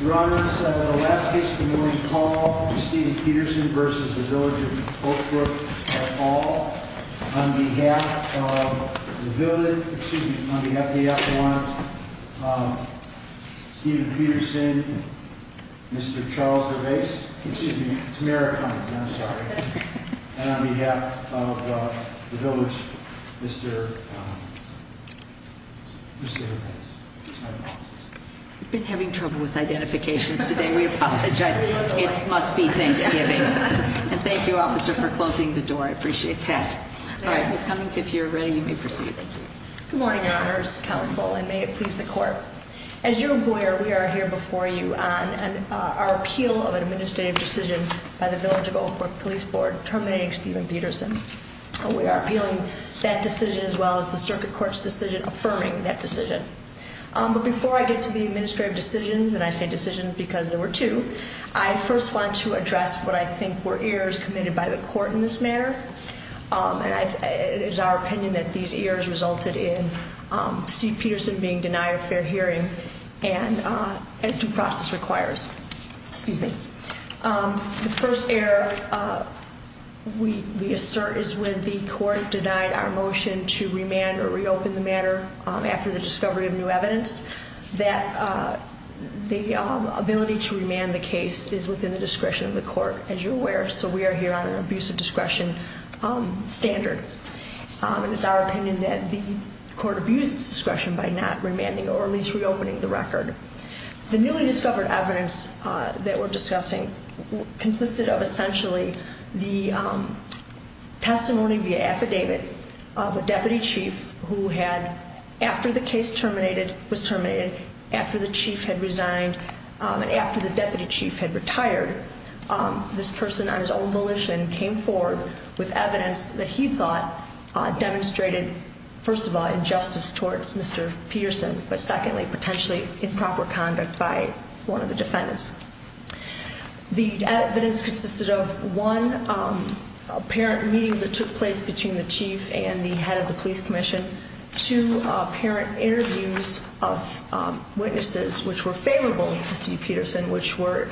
Your Honor, this is the last case of the morning call, Steven Peterson v. Village of Oakbrook at all, on behalf of the F1, Steven Peterson, Mr. Charles DeBase, excuse me, it's Merrick Cummins, I'm sorry, and on behalf of the Village, Mr. DeBase. We've been having trouble with identifications today. We apologize. It must be Thanksgiving. And thank you, officer, for closing the door. I appreciate that. All right, Ms. Cummins, if you're ready, you may proceed. Thank you. Good morning, Your Honors, counsel, and may it please the court. As your employer, we are here before you on our appeal of an administrative decision by the Village of Oakbrook Police Board terminating Steven Peterson. We are appealing that decision as well as the circuit court's decision affirming that decision. But before I get to the administrative decisions, and I say decisions because there were two, I first want to address what I think were errors committed by the court in this matter. And it is our opinion that these errors resulted in Steven Peterson being denied a fair hearing as due process requires. Excuse me. The first error we assert is when the court denied our motion to remand or reopen the matter after the discovery of new evidence, that the ability to remand the case is within the discretion of the court, as you're aware. So we are here on an abuse of discretion standard. And it's our opinion that the court abused its discretion by not remanding or at least reopening the record. The newly discovered evidence that we're discussing consisted of essentially the testimony via affidavit of a deputy chief who had, after the case was terminated, after the chief had resigned, after the deputy chief had retired, this person on his own volition came forward with evidence that he thought demonstrated, first of all, injustice towards Mr. Peterson, but secondly, potentially improper conduct by one of the defendants. The evidence consisted of one apparent meeting that took place between the chief and the head of the police commission, two apparent interviews of witnesses which were favorable to Steve Peterson, which were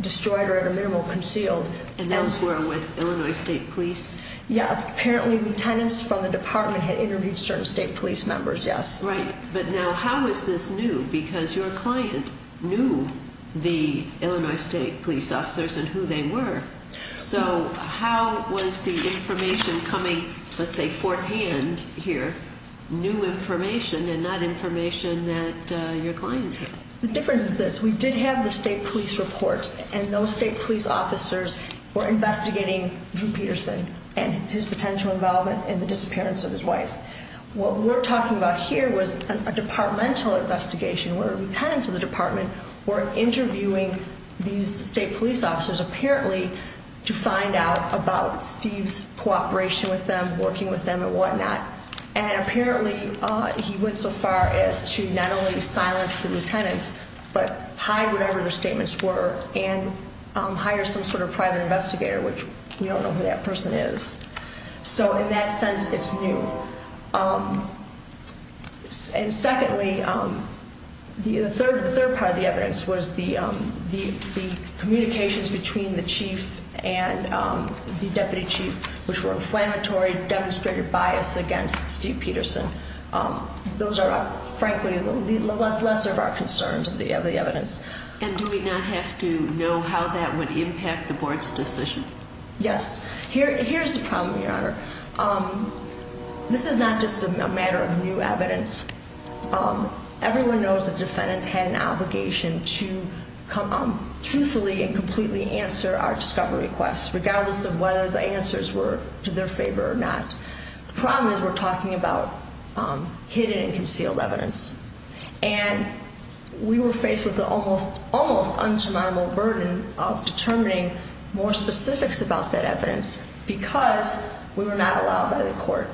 destroyed or at the minimum concealed. And those were with Illinois State Police? Yeah, apparently lieutenants from the department had interviewed certain state police members, yes. Right, but now how is this new? Because your client knew the Illinois State Police officers and who they were. So how was the information coming, let's say, forehand here, new information and not information that your client had? The difference is this, we did have the state police reports and those state police officers were investigating Drew Peterson and his potential involvement in the disappearance of his wife. What we're talking about here was a departmental investigation where lieutenants of the department were interviewing these state police officers apparently to find out about Steve's cooperation with them, working with them and whatnot. And apparently he went so far as to not only silence the lieutenants, but hide whatever their statements were and hire some sort of private investigator, which we don't know who that person is. So in that sense, it's new. And secondly, the third part of the evidence was the communications between the chief and the deputy chief, which were inflammatory, demonstrated bias against Steve Peterson. Those are frankly the lesser of our concerns of the evidence. And do we not have to know how that would impact the board's decision? Yes. Here's the problem, Your Honor. This is not just a matter of new evidence. Everyone knows that defendants had an obligation to truthfully and completely answer our discovery requests, regardless of whether the answers were to their favor or not. The problem is we're talking about hidden and concealed evidence. And we were faced with the almost untamable burden of determining more specifics about that evidence because we were not allowed by the court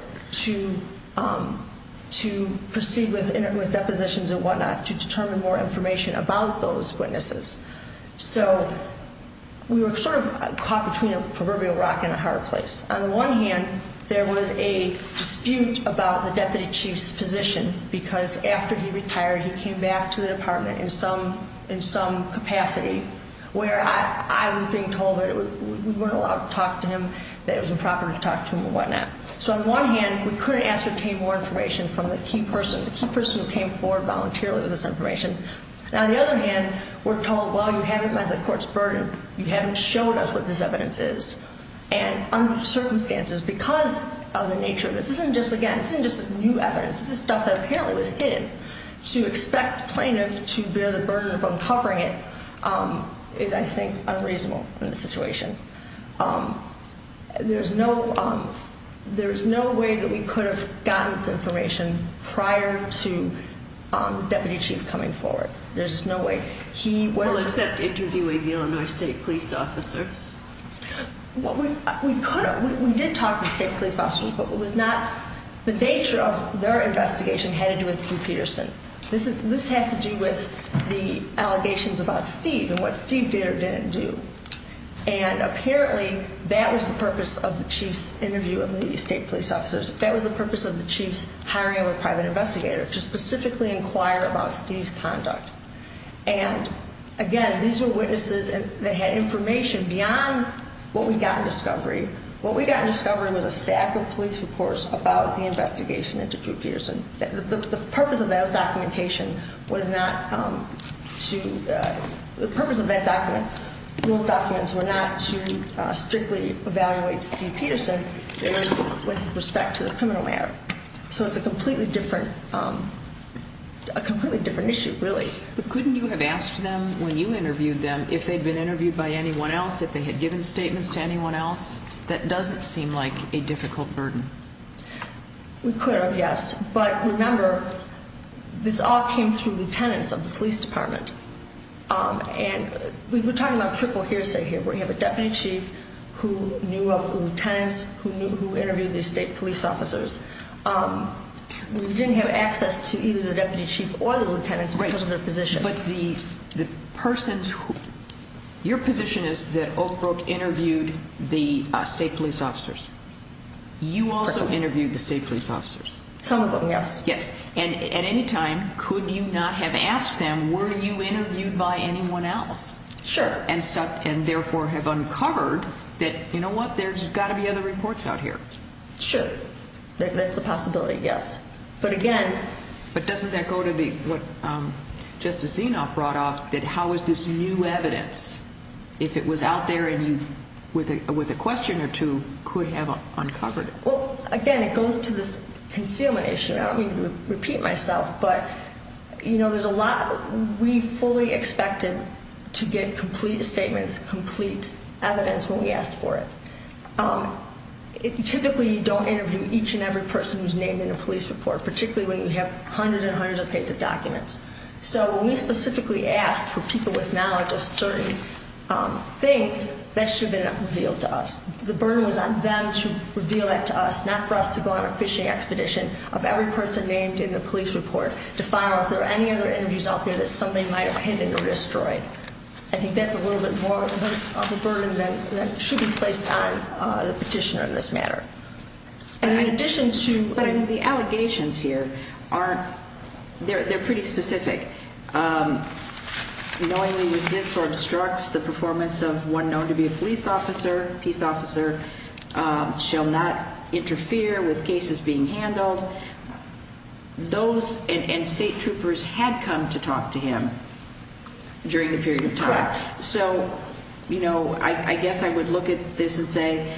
to proceed with depositions and whatnot to determine more information about those witnesses. So we were sort of caught between a proverbial rock and a hard place. On the one hand, there was a dispute about the deputy chief's position because after he retired, he came back to the department in some capacity where I was being told that we weren't allowed to talk to him, that it was improper to talk to him and whatnot. So on the one hand, we couldn't ascertain more information from the key person, the key person who came forward voluntarily with this information. Now, on the other hand, we're told, well, you haven't met the court's burden. You haven't shown us what this evidence is. And under circumstances, because of the nature of this, this isn't just, again, this isn't just new evidence. This is stuff that apparently was hidden. To expect a plaintiff to bear the burden of uncovering it is, I think, unreasonable in this situation. There's no way that we could have gotten this information prior to the deputy chief coming forward. There's no way. He was- Well, except interviewing the Illinois state police officers. Well, we could have. We did talk to the state police officers, but it was not the nature of their investigation had to do with Drew Peterson. This has to do with the allegations about Steve and what Steve did or didn't do. And apparently, that was the purpose of the chief's interview with the state police officers. That was the purpose of the chief's hiring of a private investigator to specifically inquire about Steve's conduct. And, again, these were witnesses that had information beyond what we got in discovery. What we got in discovery was a stack of police reports about the investigation into Drew Peterson. The purpose of those documentation was not to- The purpose of those documents were not to strictly evaluate Steve Peterson with respect to the criminal matter. So it's a completely different issue, really. But couldn't you have asked them when you interviewed them if they'd been interviewed by anyone else, if they had given statements to anyone else? That doesn't seem like a difficult burden. We could have, yes. But remember, this all came through lieutenants of the police department. And we're talking about triple hearsay here, where you have a deputy chief who knew of lieutenants, who interviewed the state police officers. We didn't have access to either the deputy chief or the lieutenants because of their position. Your position is that Oak Brook interviewed the state police officers. You also interviewed the state police officers. Some of them, yes. Yes. And at any time, could you not have asked them, were you interviewed by anyone else? Sure. And, therefore, have uncovered that, you know what, there's got to be other reports out here. Sure. That's a possibility, yes. But, again- But doesn't that go to what Justice Zenoff brought up, that how is this new evidence, if it was out there and you, with a question or two, could have uncovered it? Well, again, it goes to this concealment issue. I don't mean to repeat myself, but, you know, there's a lot we fully expected to get complete statements, complete evidence when we asked for it. Typically, you don't interview each and every person who's named in a police report, particularly when you have hundreds and hundreds of pages of documents. So when we specifically asked for people with knowledge of certain things, that should have been revealed to us. The burden was on them to reveal that to us, not for us to go on a fishing expedition of every person named in the police report to find out if there were any other interviews out there that somebody might have hidden or destroyed. I think that's a little bit more of a burden that should be placed on the petitioner in this matter. In addition to the allegations here, they're pretty specific. Knowingly resists or obstructs the performance of one known to be a police officer, peace officer, shall not interfere with cases being handled. Those and state troopers had come to talk to him during the period of time. Correct. So, you know, I guess I would look at this and say,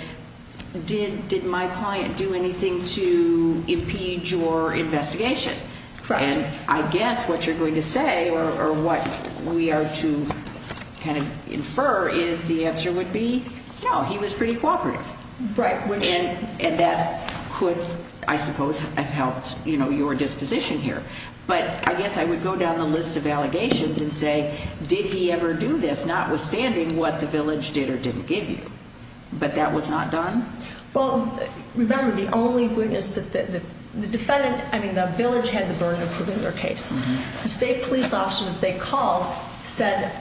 did my client do anything to impede your investigation? Correct. And I guess what you're going to say or what we are to kind of infer is the answer would be no, he was pretty cooperative. Right. And that could, I suppose, have helped, you know, your disposition here. But I guess I would go down the list of allegations and say, did he ever do this, notwithstanding what the village did or didn't give you? But that was not done? Well, remember, the only witness that the defendant, I mean, the village had the burden for their case. The state police officer that they called said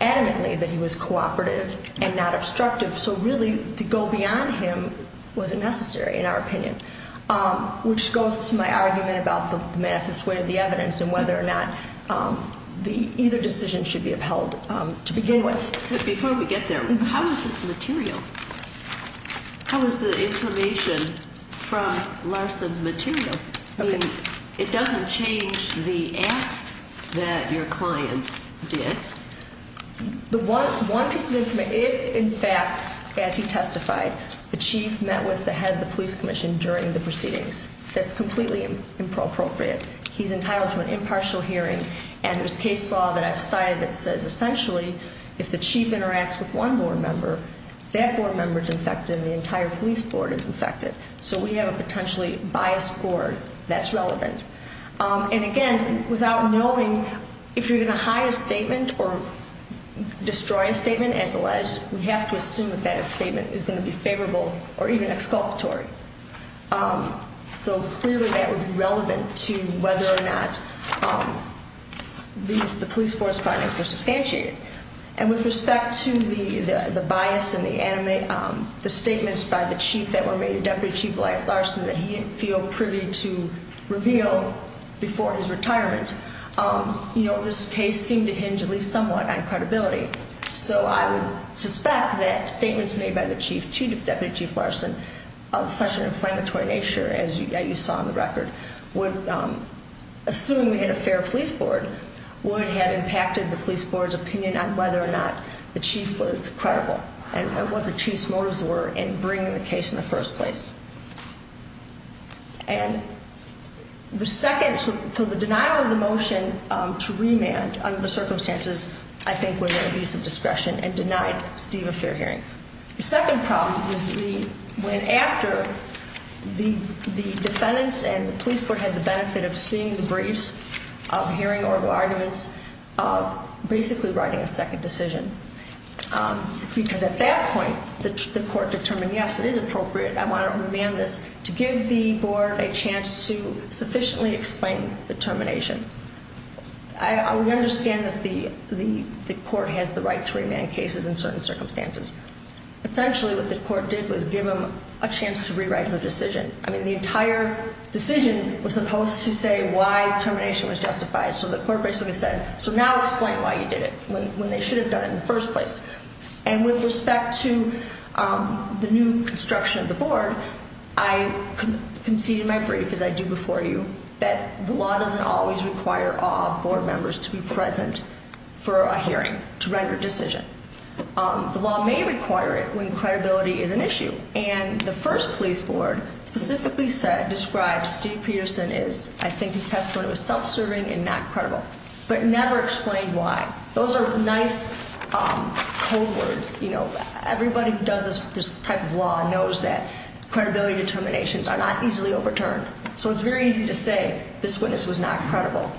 adamantly that he was cooperative and not obstructive. So, really, to go beyond him wasn't necessary in our opinion, which goes to my argument about the manifest way of the evidence and whether or not either decision should be upheld to begin with. But before we get there, how is this material? How is the information from Larson's material? I mean, it doesn't change the acts that your client did? The one piece of information, in fact, as he testified, the chief met with the head of the police commission during the proceedings. That's completely inappropriate. He's entitled to an impartial hearing, and there's case law that I've cited that says essentially if the chief interacts with one board member, that board member is infected and the entire police board is infected. And again, without knowing, if you're going to hide a statement or destroy a statement as alleged, we have to assume that that statement is going to be favorable or even exculpatory. So, clearly, that would be relevant to whether or not the police board's findings were substantiated. And with respect to the bias and the statements by the chief that were made to Deputy Chief Larson that he didn't feel privy to reveal before his retirement, you know, this case seemed to hinge at least somewhat on credibility. So I would suspect that statements made by the chief to Deputy Chief Larson of such an inflammatory nature, as you saw in the record, would assume in a fair police board, would have impacted the police board's opinion on whether or not the chief was credible and what the chief's motives were in bringing the case in the first place. And the second, so the denial of the motion to remand under the circumstances, I think, was an abuse of discretion and denied Steve a fair hearing. The second problem was when after the defendants and the police board had the benefit of seeing the briefs, of hearing oral arguments, of basically writing a second decision. Because at that point, the court determined, yes, it is appropriate. I want to remand this to give the board a chance to sufficiently explain the termination. I understand that the court has the right to remand cases in certain circumstances. Essentially, what the court did was give them a chance to rewrite the decision. I mean, the entire decision was supposed to say why termination was justified. So the court basically said, so now explain why you did it, when they should have done it in the first place. And with respect to the new construction of the board, I conceded in my brief, as I do before you, that the law doesn't always require all board members to be present for a hearing to render a decision. The law may require it when credibility is an issue. And the first police board specifically said, described Steve Peterson as, I think his testimony was self-serving and not credible, but never explained why. Those are nice code words. You know, everybody who does this type of law knows that credibility determinations are not easily overturned. So it's very easy to say this witness was not credible.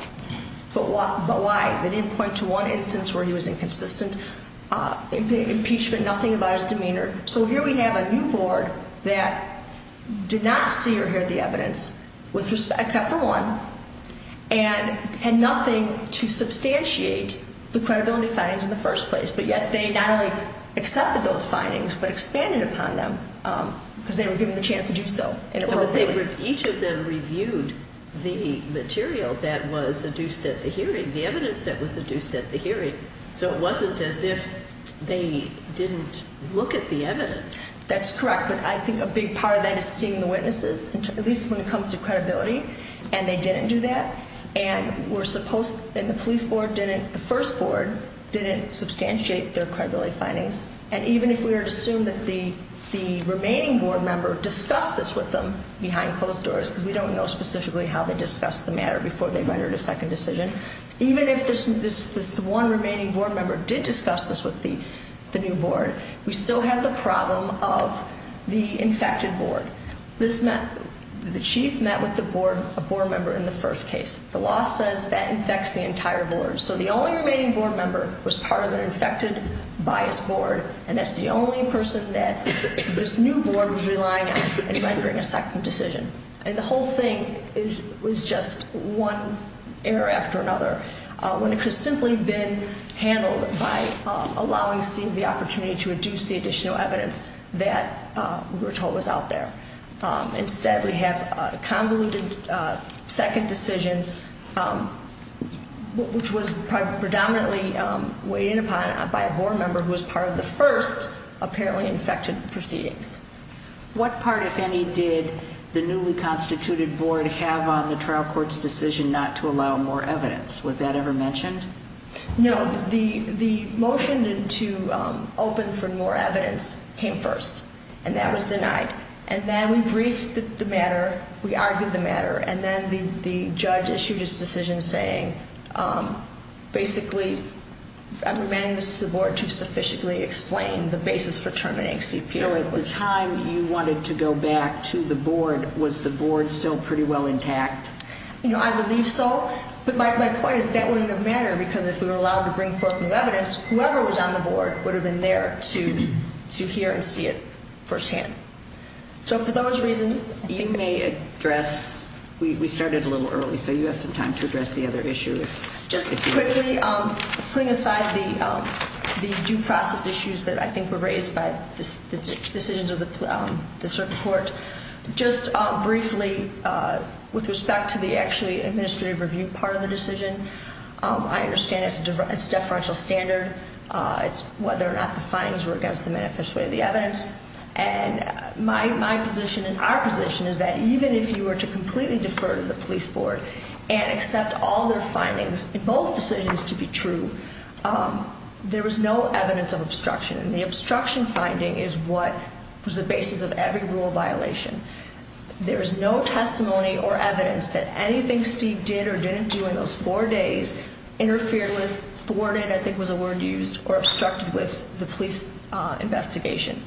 But why? They didn't point to one instance where he was inconsistent, impeachment, nothing about his demeanor. So here we have a new board that did not see or hear the evidence, except for one, and had nothing to substantiate the credibility findings in the first place. But yet they not only accepted those findings, but expanded upon them because they were given the chance to do so. Each of them reviewed the material that was induced at the hearing, the evidence that was induced at the hearing. So it wasn't as if they didn't look at the evidence. That's correct. But I think a big part of that is seeing the witnesses, at least when it comes to credibility, and they didn't do that. And we're supposed, and the police board didn't, the first board didn't substantiate their credibility findings. And even if we were to assume that the remaining board member discussed this with them behind closed doors, because we don't know specifically how they discussed the matter before they rendered a second decision, even if this one remaining board member did discuss this with the new board, we still have the problem of the infected board. The chief met with the board member in the first case. The law says that infects the entire board. So the only remaining board member was part of an infected bias board, and that's the only person that this new board was relying on in rendering a second decision. And the whole thing was just one error after another, when it could have simply been handled by allowing Steve the opportunity to reduce the additional evidence that we were told was out there. Instead, we have a convoluted second decision, which was predominantly weighed in upon by a board member who was part of the first apparently infected proceedings. What part, if any, did the newly constituted board have on the trial court's decision not to allow more evidence? Was that ever mentioned? No. The motion to open for more evidence came first, and that was denied. And then we briefed the matter, we argued the matter, and then the judge issued his decision saying, basically, I'm demanding this to the board to sufficiently explain the basis for terminating Steve Peter. So at the time you wanted to go back to the board, was the board still pretty well intact? I believe so, but my point is that wouldn't have mattered, because if we were allowed to bring forth new evidence, whoever was on the board would have been there to hear and see it firsthand. So for those reasons, you may address. We started a little early, so you have some time to address the other issues. Just quickly, putting aside the due process issues that I think were raised by the decisions of this report, just briefly, with respect to the actually administrative review part of the decision, I understand it's a deferential standard. It's whether or not the findings were against the manifest way of the evidence. And my position and our position is that even if you were to completely defer to the police board and accept all their findings, both decisions to be true, there was no evidence of obstruction. And the obstruction finding is what was the basis of every rule violation. There is no testimony or evidence that anything Steve did or didn't do in those four days interfered with, thwarted, I think was a word used, or obstructed with the police investigation.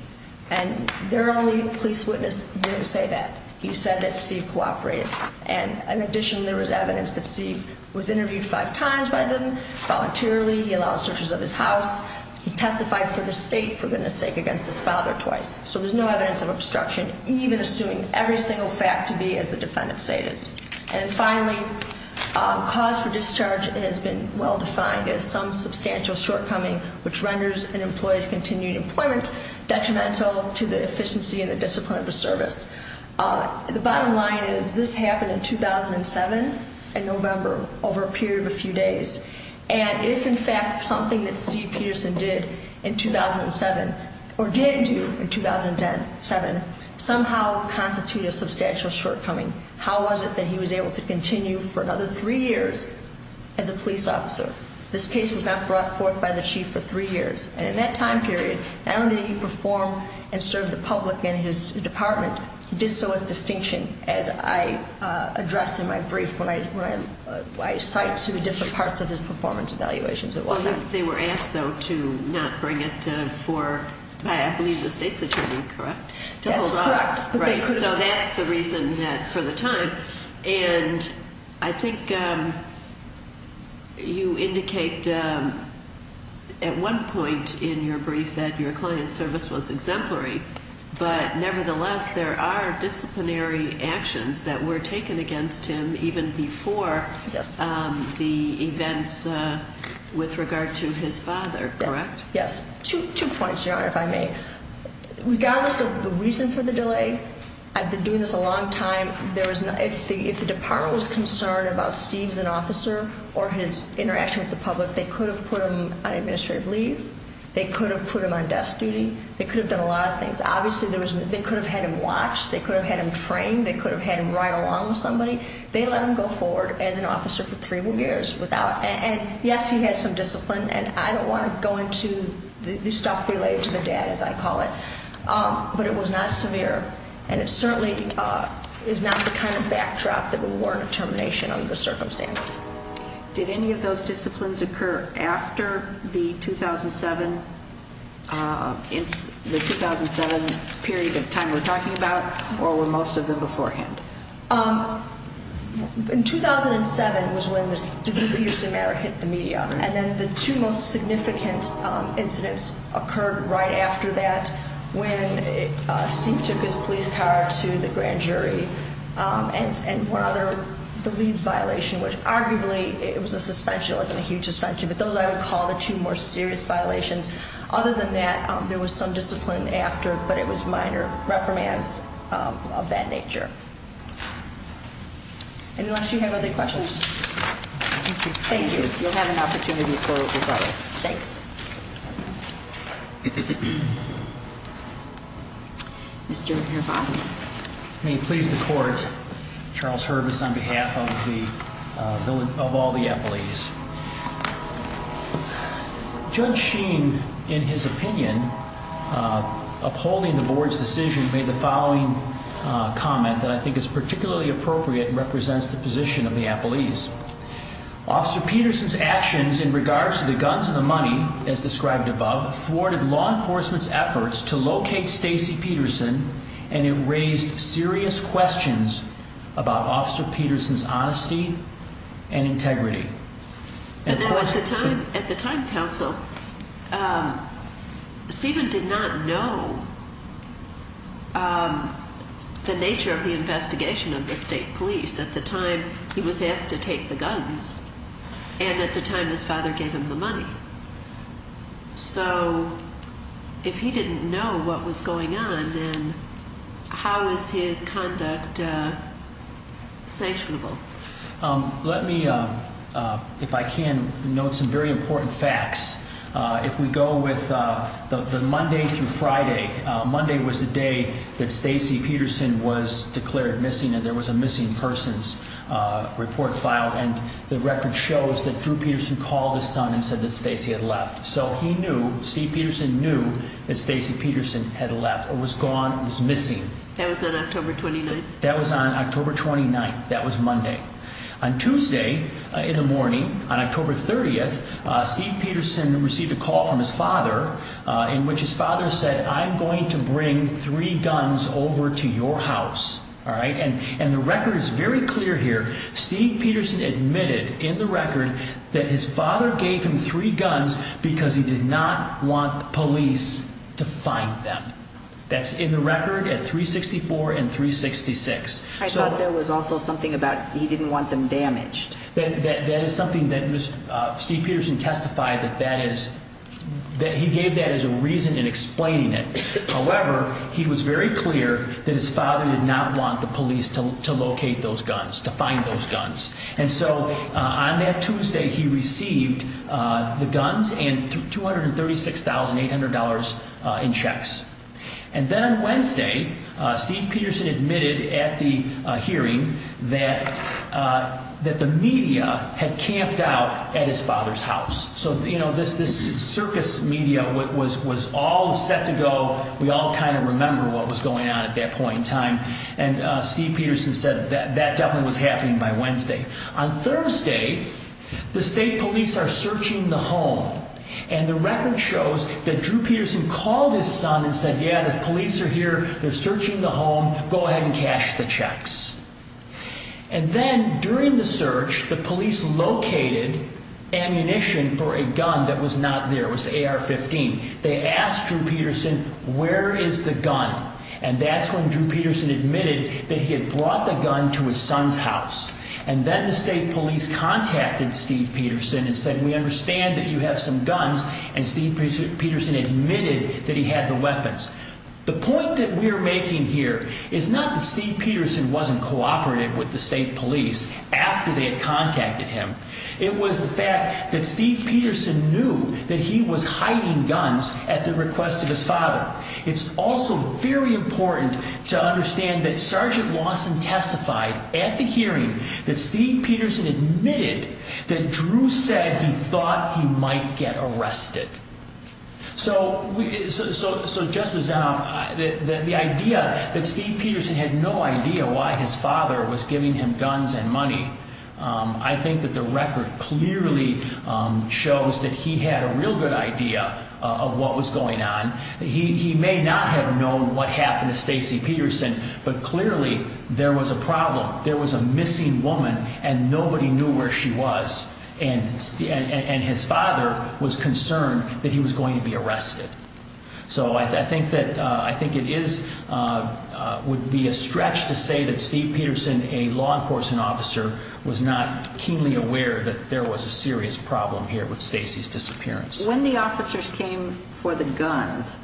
And their only police witness didn't say that. He said that Steve cooperated. And in addition, there was evidence that Steve was interviewed five times by them voluntarily. He allowed searches of his house. He testified for the state, for goodness sake, against his father twice. So there's no evidence of obstruction, even assuming every single fact to be as the defendant stated. And finally, cause for discharge has been well defined as some substantial shortcoming which renders an employee's continued employment detrimental to the efficiency and the discipline of the service. The bottom line is this happened in 2007, in November, over a period of a few days. And if, in fact, something that Steve Peterson did in 2007, or did do in 2007, somehow constituted a substantial shortcoming, how was it that he was able to continue for another three years as a police officer? This case was not brought forth by the chief for three years. And in that time period, not only did he perform and serve the public and his department, he did so with distinction, as I addressed in my brief when I cite two different parts of his performance evaluations and whatnot. They were asked, though, to not bring it for, I believe, the state's attorney, correct? That's correct. So that's the reason that, for the time. And I think you indicate at one point in your brief that your client's service was exemplary. But nevertheless, there are disciplinary actions that were taken against him even before the events with regard to his father, correct? Yes. Two points, Your Honor, if I may. Regardless of the reason for the delay, I've been doing this a long time. If the department was concerned about Steve's an officer or his interaction with the public, they could have put him on administrative leave. They could have put him on desk duty. They could have done a lot of things. Obviously, they could have had him watched. They could have had him trained. They could have had him ride along with somebody. They let him go forward as an officer for three more years. And, yes, he had some discipline. And I don't want to go into the stuff related to the dad, as I call it. But it was not severe. And it certainly is not the kind of backdrop that would warrant a termination under the circumstance. Did any of those disciplines occur after the 2007 period of time we're talking about? Or were most of them beforehand? In 2007 was when the Steve Peterson matter hit the media. And then the two most significant incidents occurred right after that, when Steve took his police car to the grand jury. And one other, the leave violation, which arguably it was a suspension. It wasn't a huge suspension. But those I would call the two more serious violations. Other than that, there was some discipline after, but it was minor reprimands of that nature. Unless you have other questions? Thank you. You'll have an opportunity for a rebuttal. Thanks. Mr. Herbas. May it please the court. Charles Herbas on behalf of all the appellees. Judge Sheen, in his opinion, upholding the board's decision, made the following comment that I think is particularly appropriate and represents the position of the appellees. Officer Peterson's actions in regards to the guns and the money, as described above, thwarted law enforcement's efforts to locate Stacy Peterson. And it raised serious questions about Officer Peterson's honesty and integrity. At the time, counsel, Stephen did not know the nature of the investigation of the state police. At the time, he was asked to take the guns. And at the time, his father gave him the money. So if he didn't know what was going on, then how is his conduct sanctionable? Let me, if I can, note some very important facts. If we go with the Monday through Friday, Monday was the day that Stacy Peterson was declared missing and there was a missing persons report filed. And the record shows that Drew Peterson called his son and said that Stacy had left. So he knew, Steve Peterson knew, that Stacy Peterson had left or was gone or was missing. That was on October 29th? That was on October 29th. That was Monday. On Tuesday in the morning, on October 30th, Steve Peterson received a call from his father in which his father said, I'm going to bring three guns over to your house. All right. And the record is very clear here. Steve Peterson admitted in the record that his father gave him three guns because he did not want police to find them. That's in the record at 364 and 366. I thought there was also something about he didn't want them damaged. That is something that Steve Peterson testified that that is, that he gave that as a reason in explaining it. However, he was very clear that his father did not want the police to locate those guns, to find those guns. And so on that Tuesday, he received the guns and $236,800 in checks. And then on Wednesday, Steve Peterson admitted at the hearing that that the media had camped out at his father's house. So, you know, this this circus media was was all set to go. We all kind of remember what was going on at that point in time. And Steve Peterson said that that definitely was happening by Wednesday. On Thursday, the state police are searching the home. And the record shows that Drew Peterson called his son and said, yeah, the police are here. They're searching the home. Go ahead and cash the checks. And then during the search, the police located ammunition for a gun that was not there was the AR-15. They asked Drew Peterson, where is the gun? And that's when Drew Peterson admitted that he had brought the gun to his son's house. And then the state police contacted Steve Peterson and said, we understand that you have some guns. And Steve Peterson admitted that he had the weapons. The point that we are making here is not that Steve Peterson wasn't cooperative with the state police after they had contacted him. It was the fact that Steve Peterson knew that he was hiding guns at the request of his father. It's also very important to understand that Sergeant Lawson testified at the hearing that Steve Peterson admitted that Drew said he thought he might get arrested. So so so just as the idea that Steve Peterson had no idea why his father was giving him guns and money. I think that the record clearly shows that he had a real good idea of what was going on. He may not have known what happened to Stacy Peterson, but clearly there was a problem. There was a missing woman and nobody knew where she was. And and his father was concerned that he was going to be arrested. So I think that I think it is would be a stretch to say that Steve Peterson, a law enforcement officer, was not keenly aware that there was a serious problem here with Stacy's disappearance. When the officers came for the guns,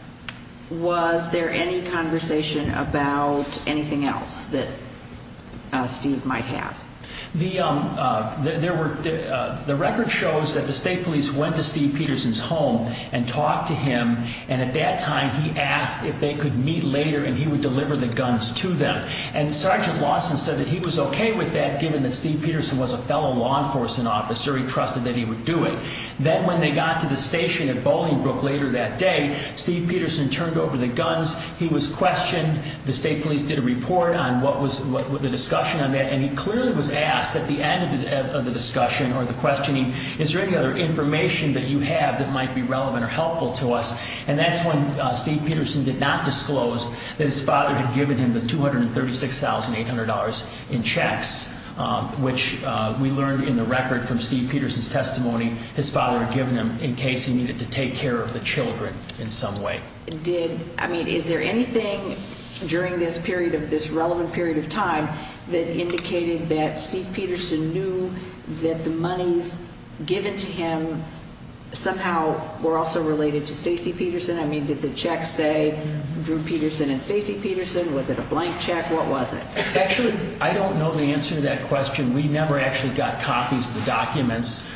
was there any conversation about anything else that Steve might have? The there were the record shows that the state police went to Steve Peterson's home and talked to him. And at that time, he asked if they could meet later and he would deliver the guns to them. And Sergeant Lawson said that he was OK with that, given that Steve Peterson was a fellow law enforcement officer. He trusted that he would do it. Then when they got to the station at Bolingbrook later that day, Steve Peterson turned over the guns. He was questioned. The state police did a report on what was the discussion on that. And he clearly was asked at the end of the discussion or the questioning, is there any other information that you have that might be relevant or helpful to us? And that's when Steve Peterson did not disclose that his father had given him the two hundred and thirty six thousand eight hundred dollars in checks, which we learned in the record from Steve Peterson's testimony. His father had given him in case he needed to take care of the children in some way. Did I mean, is there anything during this period of this relevant period of time that indicated that Steve Peterson knew that the monies given to him somehow were also related to Stacy Peterson? I mean, did the checks say Drew Peterson and Stacy Peterson? Was it a blank check? What was it? Actually, I don't know the answer to that question. We never actually got copies of the documents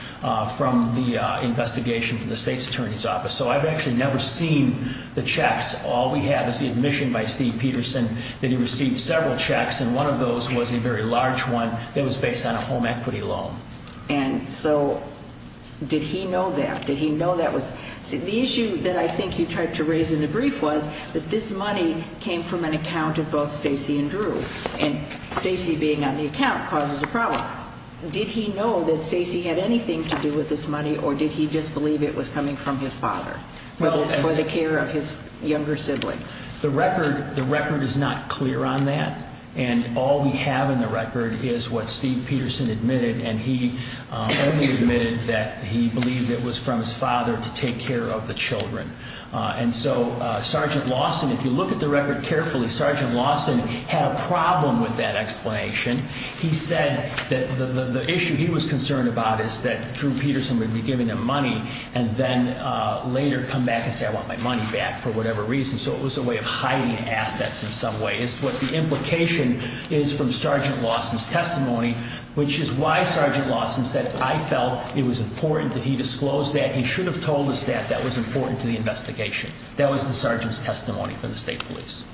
from the investigation from the state's attorney's office. So I've actually never seen the checks. All we have is the admission by Steve Peterson that he received several checks. And one of those was a very large one that was based on a home equity loan. And so did he know that? Did he know that was the issue that I think you tried to raise in the brief was that this money came from an account of both Stacy and Drew and Stacy being on the account causes a problem. Did he know that Stacy had anything to do with this money or did he just believe it was coming from his father for the care of his younger siblings? The record, the record is not clear on that. And all we have in the record is what Steve Peterson admitted. And he only admitted that he believed it was from his father to take care of the children. And so Sergeant Lawson, if you look at the record carefully, Sergeant Lawson had a problem with that explanation. He said that the issue he was concerned about is that Drew Peterson would be giving him money and then later come back and say, I want my money back for whatever reason. So it was a way of hiding assets in some way is what the implication is from Sergeant Lawson's testimony, which is why Sergeant Lawson said, I felt it was important that he disclosed that. And he should have told his staff that was important to the investigation. That was the sergeant's testimony for the state police.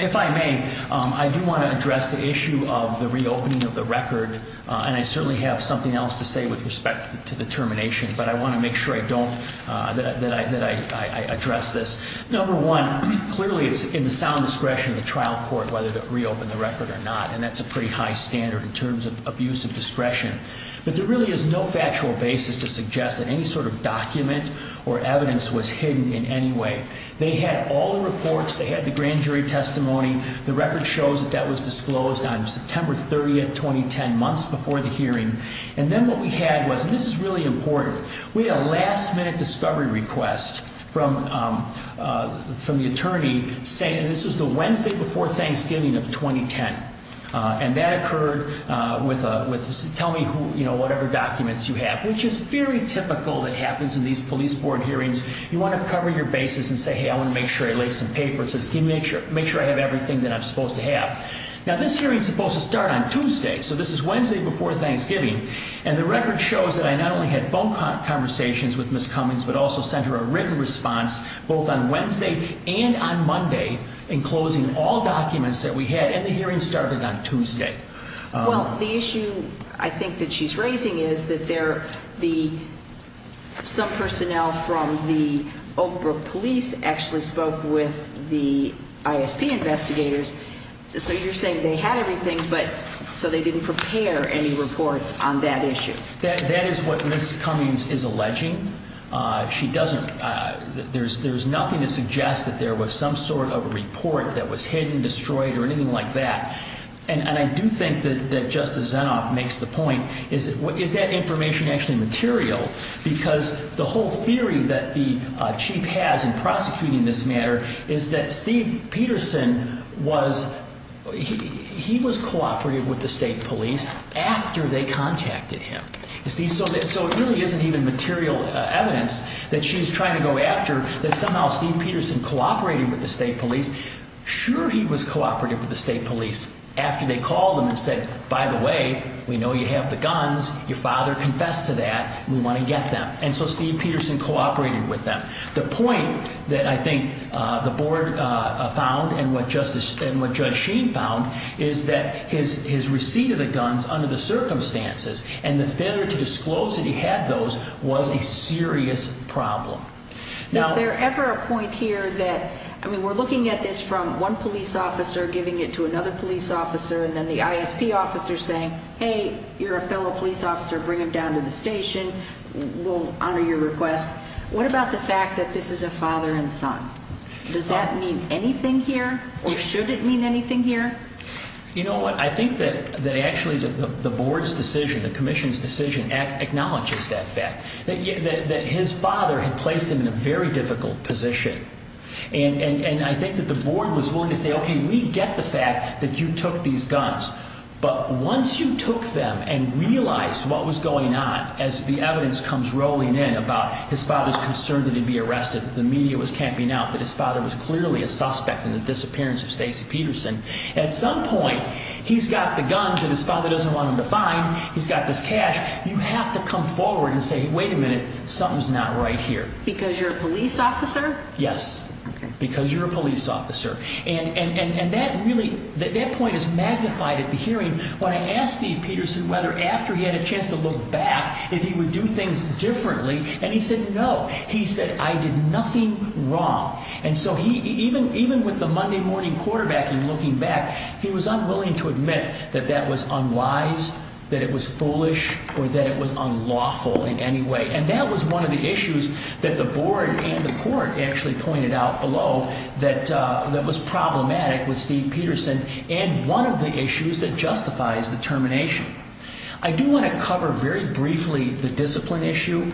If I may, I do want to address the issue of the reopening of the record. And I certainly have something else to say with respect to the termination, but I want to make sure I don't, that I address this. Number one, clearly it's in the sound discretion of the trial court whether to reopen the record or not. And that's a pretty high standard in terms of abuse of discretion. But there really is no factual basis to suggest that any sort of document or evidence was hidden in any way. They had all the reports. They had the grand jury testimony. The record shows that that was disclosed on September 30th, 2010, months before the hearing. And then what we had was, and this is really important, we had a last minute discovery request from the attorney saying, and this was the Wednesday before Thanksgiving of 2010. And that occurred with a tell me whatever documents you have, which is very typical that happens in these police board hearings. You want to cover your bases and say, hey, I want to make sure I lay some paper. It says make sure I have everything that I'm supposed to have. Now, this hearing is supposed to start on Tuesday. So this is Wednesday before Thanksgiving. And the record shows that I not only had phone conversations with Ms. Cummings, but also sent her a written response both on Wednesday and on Monday in closing all documents that we had. And the hearing started on Tuesday. Well, the issue I think that she's raising is that some personnel from the Oak Brook police actually spoke with the ISP investigators. So you're saying they had everything, but so they didn't prepare any reports on that issue. That is what Ms. Cummings is alleging. She doesn't. There's nothing to suggest that there was some sort of report that was hidden, destroyed, or anything like that. And I do think that Justice Zinoff makes the point, is that information actually material? Because the whole theory that the chief has in prosecuting this matter is that Steve Peterson was, he was cooperating with the state police after they contacted him. You see, so it really isn't even material evidence that she's trying to go after that somehow Steve Peterson cooperated with the state police. Sure he was cooperating with the state police after they called him and said, by the way, we know you have the guns. Your father confessed to that. We want to get them. And so Steve Peterson cooperated with them. The point that I think the board found and what Judge Sheen found is that his receipt of the guns under the circumstances and the failure to disclose that he had those was a serious problem. Is there ever a point here that, I mean, we're looking at this from one police officer giving it to another police officer and then the ISP officer saying, hey, you're a fellow police officer. Bring him down to the station. We'll honor your request. What about the fact that this is a father and son? Does that mean anything here? Or should it mean anything here? You know what? I think that actually the board's decision, the commission's decision, acknowledges that fact, that his father had placed him in a very difficult position. And I think that the board was willing to say, okay, we get the fact that you took these guns. But once you took them and realized what was going on as the evidence comes rolling in about his father's concern that he'd be arrested, that the media was camping out, that his father was clearly a suspect in the disappearance of Stacy Peterson, at some point he's got the guns that his father doesn't want him to find. He's got this cash. You have to come forward and say, wait a minute, something's not right here. Because you're a police officer? Yes, because you're a police officer. And that really, that point is magnified at the hearing. When I asked Steve Peterson whether after he had a chance to look back if he would do things differently, and he said no. He said, I did nothing wrong. And so he, even with the Monday morning quarterbacking looking back, he was unwilling to admit that that was unwise, that it was foolish, or that it was unlawful in any way. And that was one of the issues that the board and the court actually pointed out below that was problematic with Steve Peterson and one of the issues that justifies the termination. I do want to cover very briefly the discipline issue.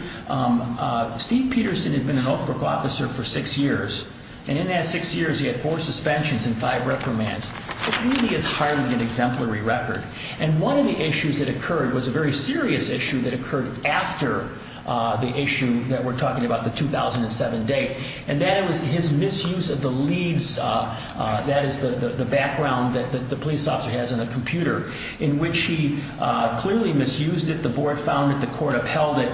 Steve Peterson had been an Oak Brook officer for six years, and in that six years he had four suspensions and five reprimands. It really is hardly an exemplary record. And one of the issues that occurred was a very serious issue that occurred after the issue that we're talking about, the 2007 date. And that was his misuse of the leads. That is the background that the police officer has on a computer, in which he clearly misused it. The board found it. The court upheld it.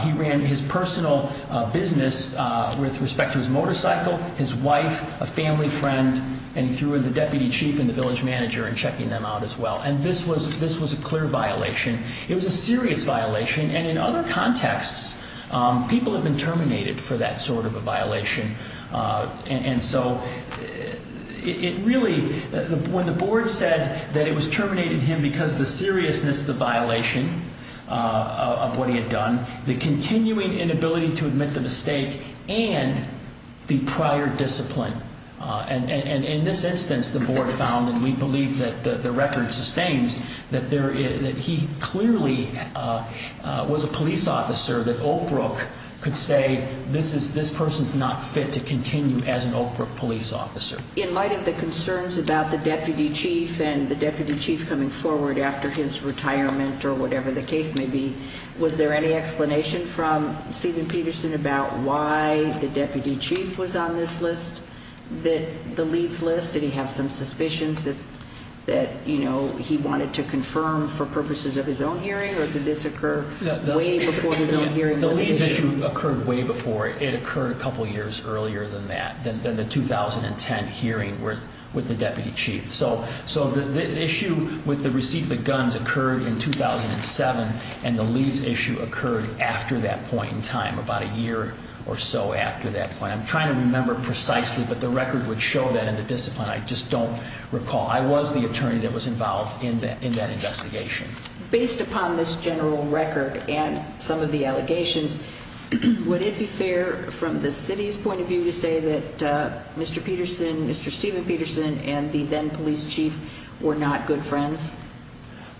He ran his personal business with respect to his motorcycle, his wife, a family friend, and he threw in the deputy chief and the village manager in checking them out as well. And this was a clear violation. It was a serious violation. And in other contexts, people have been terminated for that sort of a violation. And so it really, when the board said that it was terminating him because the seriousness of the violation of what he had done, the continuing inability to admit the mistake, and the prior discipline. And in this instance, the board found, and we believe that the record sustains, that he clearly was a police officer that Oak Brook could say, this person's not fit to continue as an Oak Brook police officer. In light of the concerns about the deputy chief and the deputy chief coming forward after his retirement or whatever the case may be, was there any explanation from Steven Peterson about why the deputy chief was on this list, the leads list? Did he have some suspicions that he wanted to confirm for purposes of his own hearing? Or did this occur way before his own hearing? The leads issue occurred way before. It occurred a couple years earlier than that, than the 2010 hearing with the deputy chief. So the issue with the receipt of the guns occurred in 2007. And the leads issue occurred after that point in time, about a year or so after that point. I'm trying to remember precisely, but the record would show that in the discipline. I just don't recall. I was the attorney that was involved in that investigation. Based upon this general record and some of the allegations, would it be fair from the city's point of view to say that Mr. Peterson, Mr. Steven Peterson, and the then police chief were not good friends?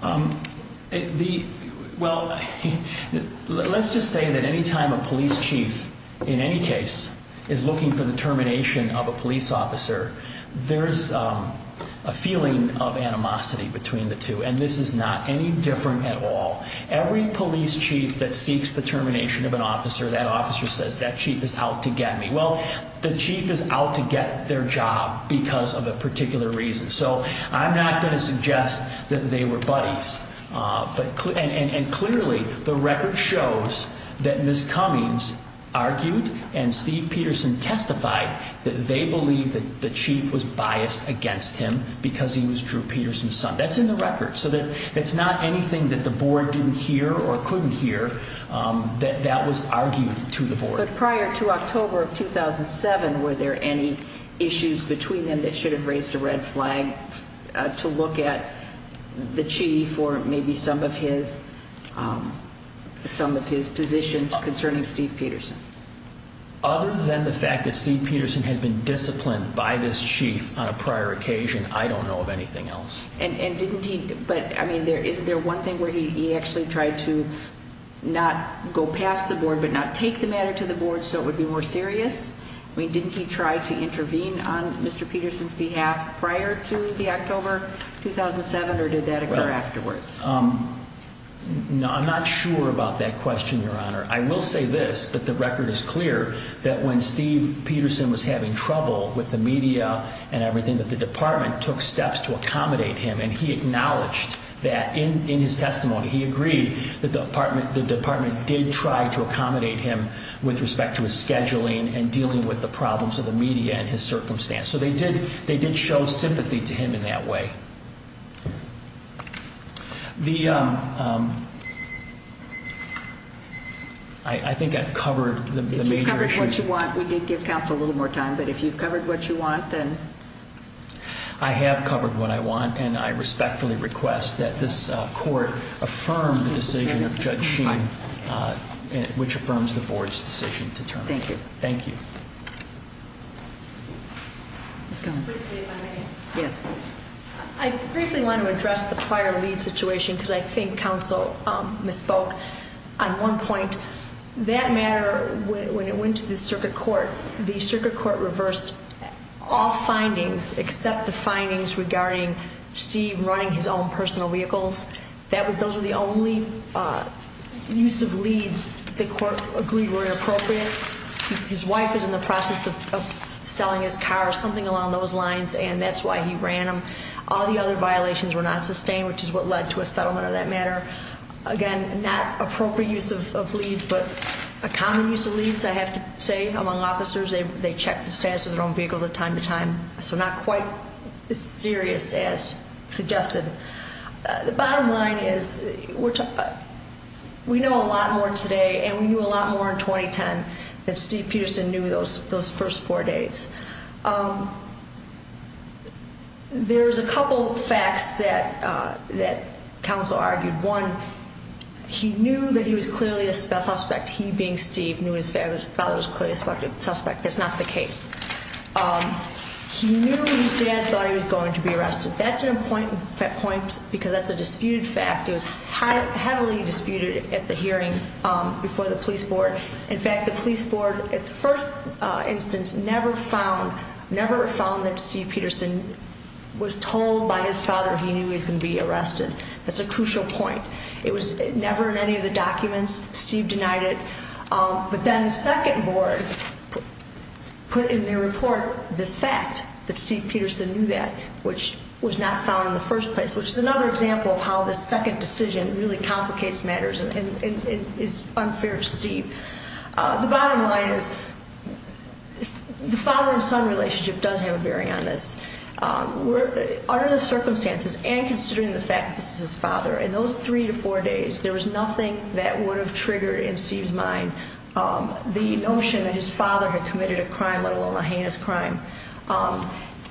Let's just say that any time a police chief in any case is looking for the termination of a police officer, there's a feeling of animosity between the two. And this is not any different at all. Every police chief that seeks the termination of an officer, that officer says, that chief is out to get me. Well, the chief is out to get their job because of a particular reason. So I'm not going to suggest that they were buddies. And clearly, the record shows that Ms. Cummings argued and Steve Peterson testified that they believed that the chief was biased against him because he was Drew Peterson's son. That's in the record. So it's not anything that the board didn't hear or couldn't hear that that was argued to the board. But prior to October of 2007, were there any issues between them that should have raised a red flag to look at the chief or maybe some of his positions concerning Steve Peterson? Other than the fact that Steve Peterson had been disciplined by this chief on a prior occasion, I don't know of anything else. And isn't there one thing where he actually tried to not go past the board but not take the matter to the board so it would be more serious? Didn't he try to intervene on Mr. Peterson's behalf prior to the October 2007, or did that occur afterwards? I'm not sure about that question, Your Honor. I will say this, that the record is clear that when Steve Peterson was having trouble with the media and everything, that the department took steps to accommodate him, and he acknowledged that in his testimony. He agreed that the department did try to accommodate him with respect to his scheduling and dealing with the problems of the media and his circumstance. So they did show sympathy to him in that way. I think I've covered the major issues. If you've covered what you want, we did give counsel a little more time, but if you've covered what you want, then. I have covered what I want, and I respectfully request that this court affirm the decision of Judge Sheen, which affirms the board's decision to terminate. Thank you. I briefly want to address the prior lead situation because I think counsel misspoke on one point. That matter, when it went to the circuit court, the circuit court reversed all findings except the findings regarding Steve running his own personal vehicles. Those were the only use of leads the court agreed were inappropriate. His wife is in the process of selling his car, something along those lines, and that's why he ran them. All the other violations were not sustained, which is what led to a settlement of that matter. Again, not appropriate use of leads, but a common use of leads, I have to say, among officers. They check the status of their own vehicles from time to time, so not quite as serious as suggested. The bottom line is we know a lot more today, and we knew a lot more in 2010, than Steve Peterson knew those first four days. There's a couple facts that counsel argued. One, he knew that he was clearly a suspect. He, being Steve, knew his father was clearly a suspect. That's not the case. He knew his dad thought he was going to be arrested. That's an important point because that's a disputed fact. It was heavily disputed at the hearing before the police board. In fact, the police board, at the first instance, never found that Steve Peterson was told by his father he knew he was going to be arrested. That's a crucial point. It was never in any of the documents. Steve denied it. But then the second board put in their report this fact, that Steve Peterson knew that, which was not found in the first place, which is another example of how the second decision really complicates matters and is unfair to Steve. The bottom line is the father and son relationship does have a bearing on this. Under the circumstances and considering the fact that this is his father, in those three to four days, there was nothing that would have triggered in Steve's mind the notion that his father had committed a crime, let alone a heinous crime.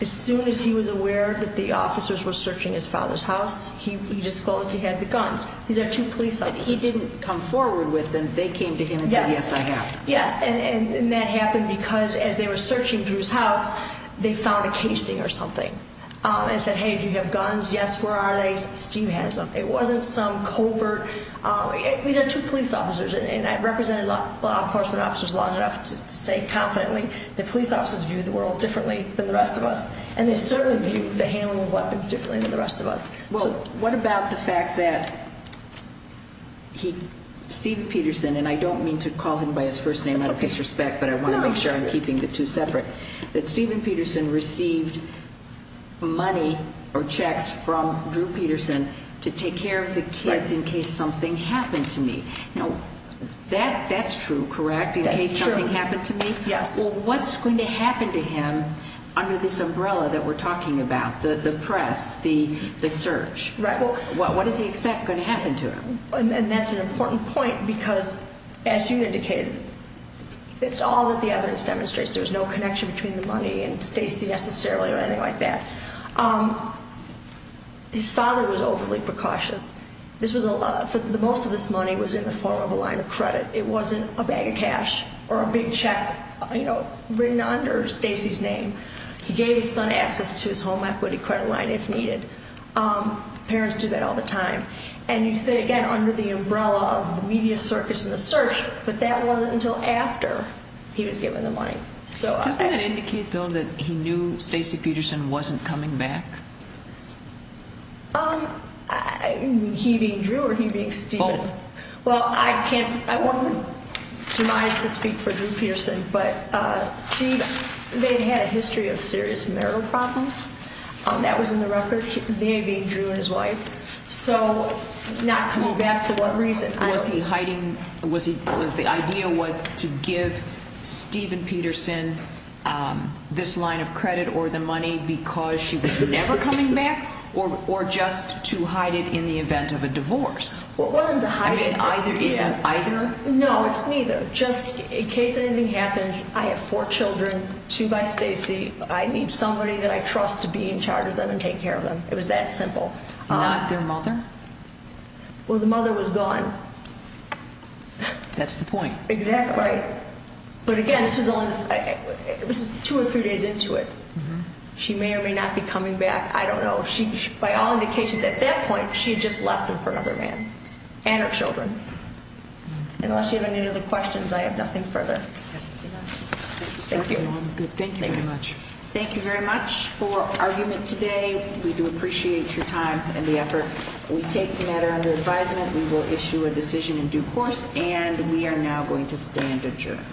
As soon as he was aware that the officers were searching his father's house, he disclosed he had the guns. These are two police officers. But he didn't come forward with them. They came to him and said, yes, I have. Yes. And that happened because as they were searching Drew's house, they found a casing or something and said, hey, do you have guns? Yes, where are they? Steve has them. It wasn't some covert. These are two police officers. And I've represented law enforcement officers long enough to say confidently that police officers view the world differently than the rest of us. And they certainly view the handling of weapons differently than the rest of us. Well, what about the fact that Steve Peterson, and I don't mean to call him by his first name out of disrespect, but I want to make sure I'm keeping the two separate, that Steven Peterson received money or checks from Drew Peterson to take care of the kids in case something happened to me. Now, that's true, correct? That's true. In case something happened to me? Yes. Well, what's going to happen to him under this umbrella that we're talking about, the press, the search? Right. What does he expect going to happen to him? And that's an important point because, as you indicated, it's all that the evidence demonstrates. There's no connection between the money and Stacy necessarily or anything like that. His father was overly precautious. Most of this money was in the form of a line of credit. It wasn't a bag of cash or a big check, you know, written under Stacy's name. He gave his son access to his home equity credit line if needed. Parents do that all the time. And you say, again, under the umbrella of the media circus and the search, but that wasn't until after he was given the money. Doesn't that indicate, though, that he knew Stacy Peterson wasn't coming back? He being Drew or he being Steven? Both. Well, I can't ‑‑ I want to speak for Drew Peterson, but Steve, they had a history of serious marital problems. That was in the record. They being Drew and his wife. So not coming back for what reason? Was the idea was to give Steven Peterson this line of credit or the money because she was never coming back or just to hide it in the event of a divorce? It wasn't to hide it. I mean, it isn't either? No, it's neither. Just in case anything happens, I have four children, two by Stacy. I need somebody that I trust to be in charge of them and take care of them. It was that simple. Not their mother? Well, the mother was gone. That's the point. Exactly. But, again, this is two or three days into it. She may or may not be coming back. I don't know. By all indications, at that point, she had just left him for another man and her children. Unless you have any other questions, I have nothing further. Thank you. Thank you very much. Thank you very much for argument today. We do appreciate your time and the effort. We take the matter under advisement. We will issue a decision in due course, and we are now going to stand adjourned.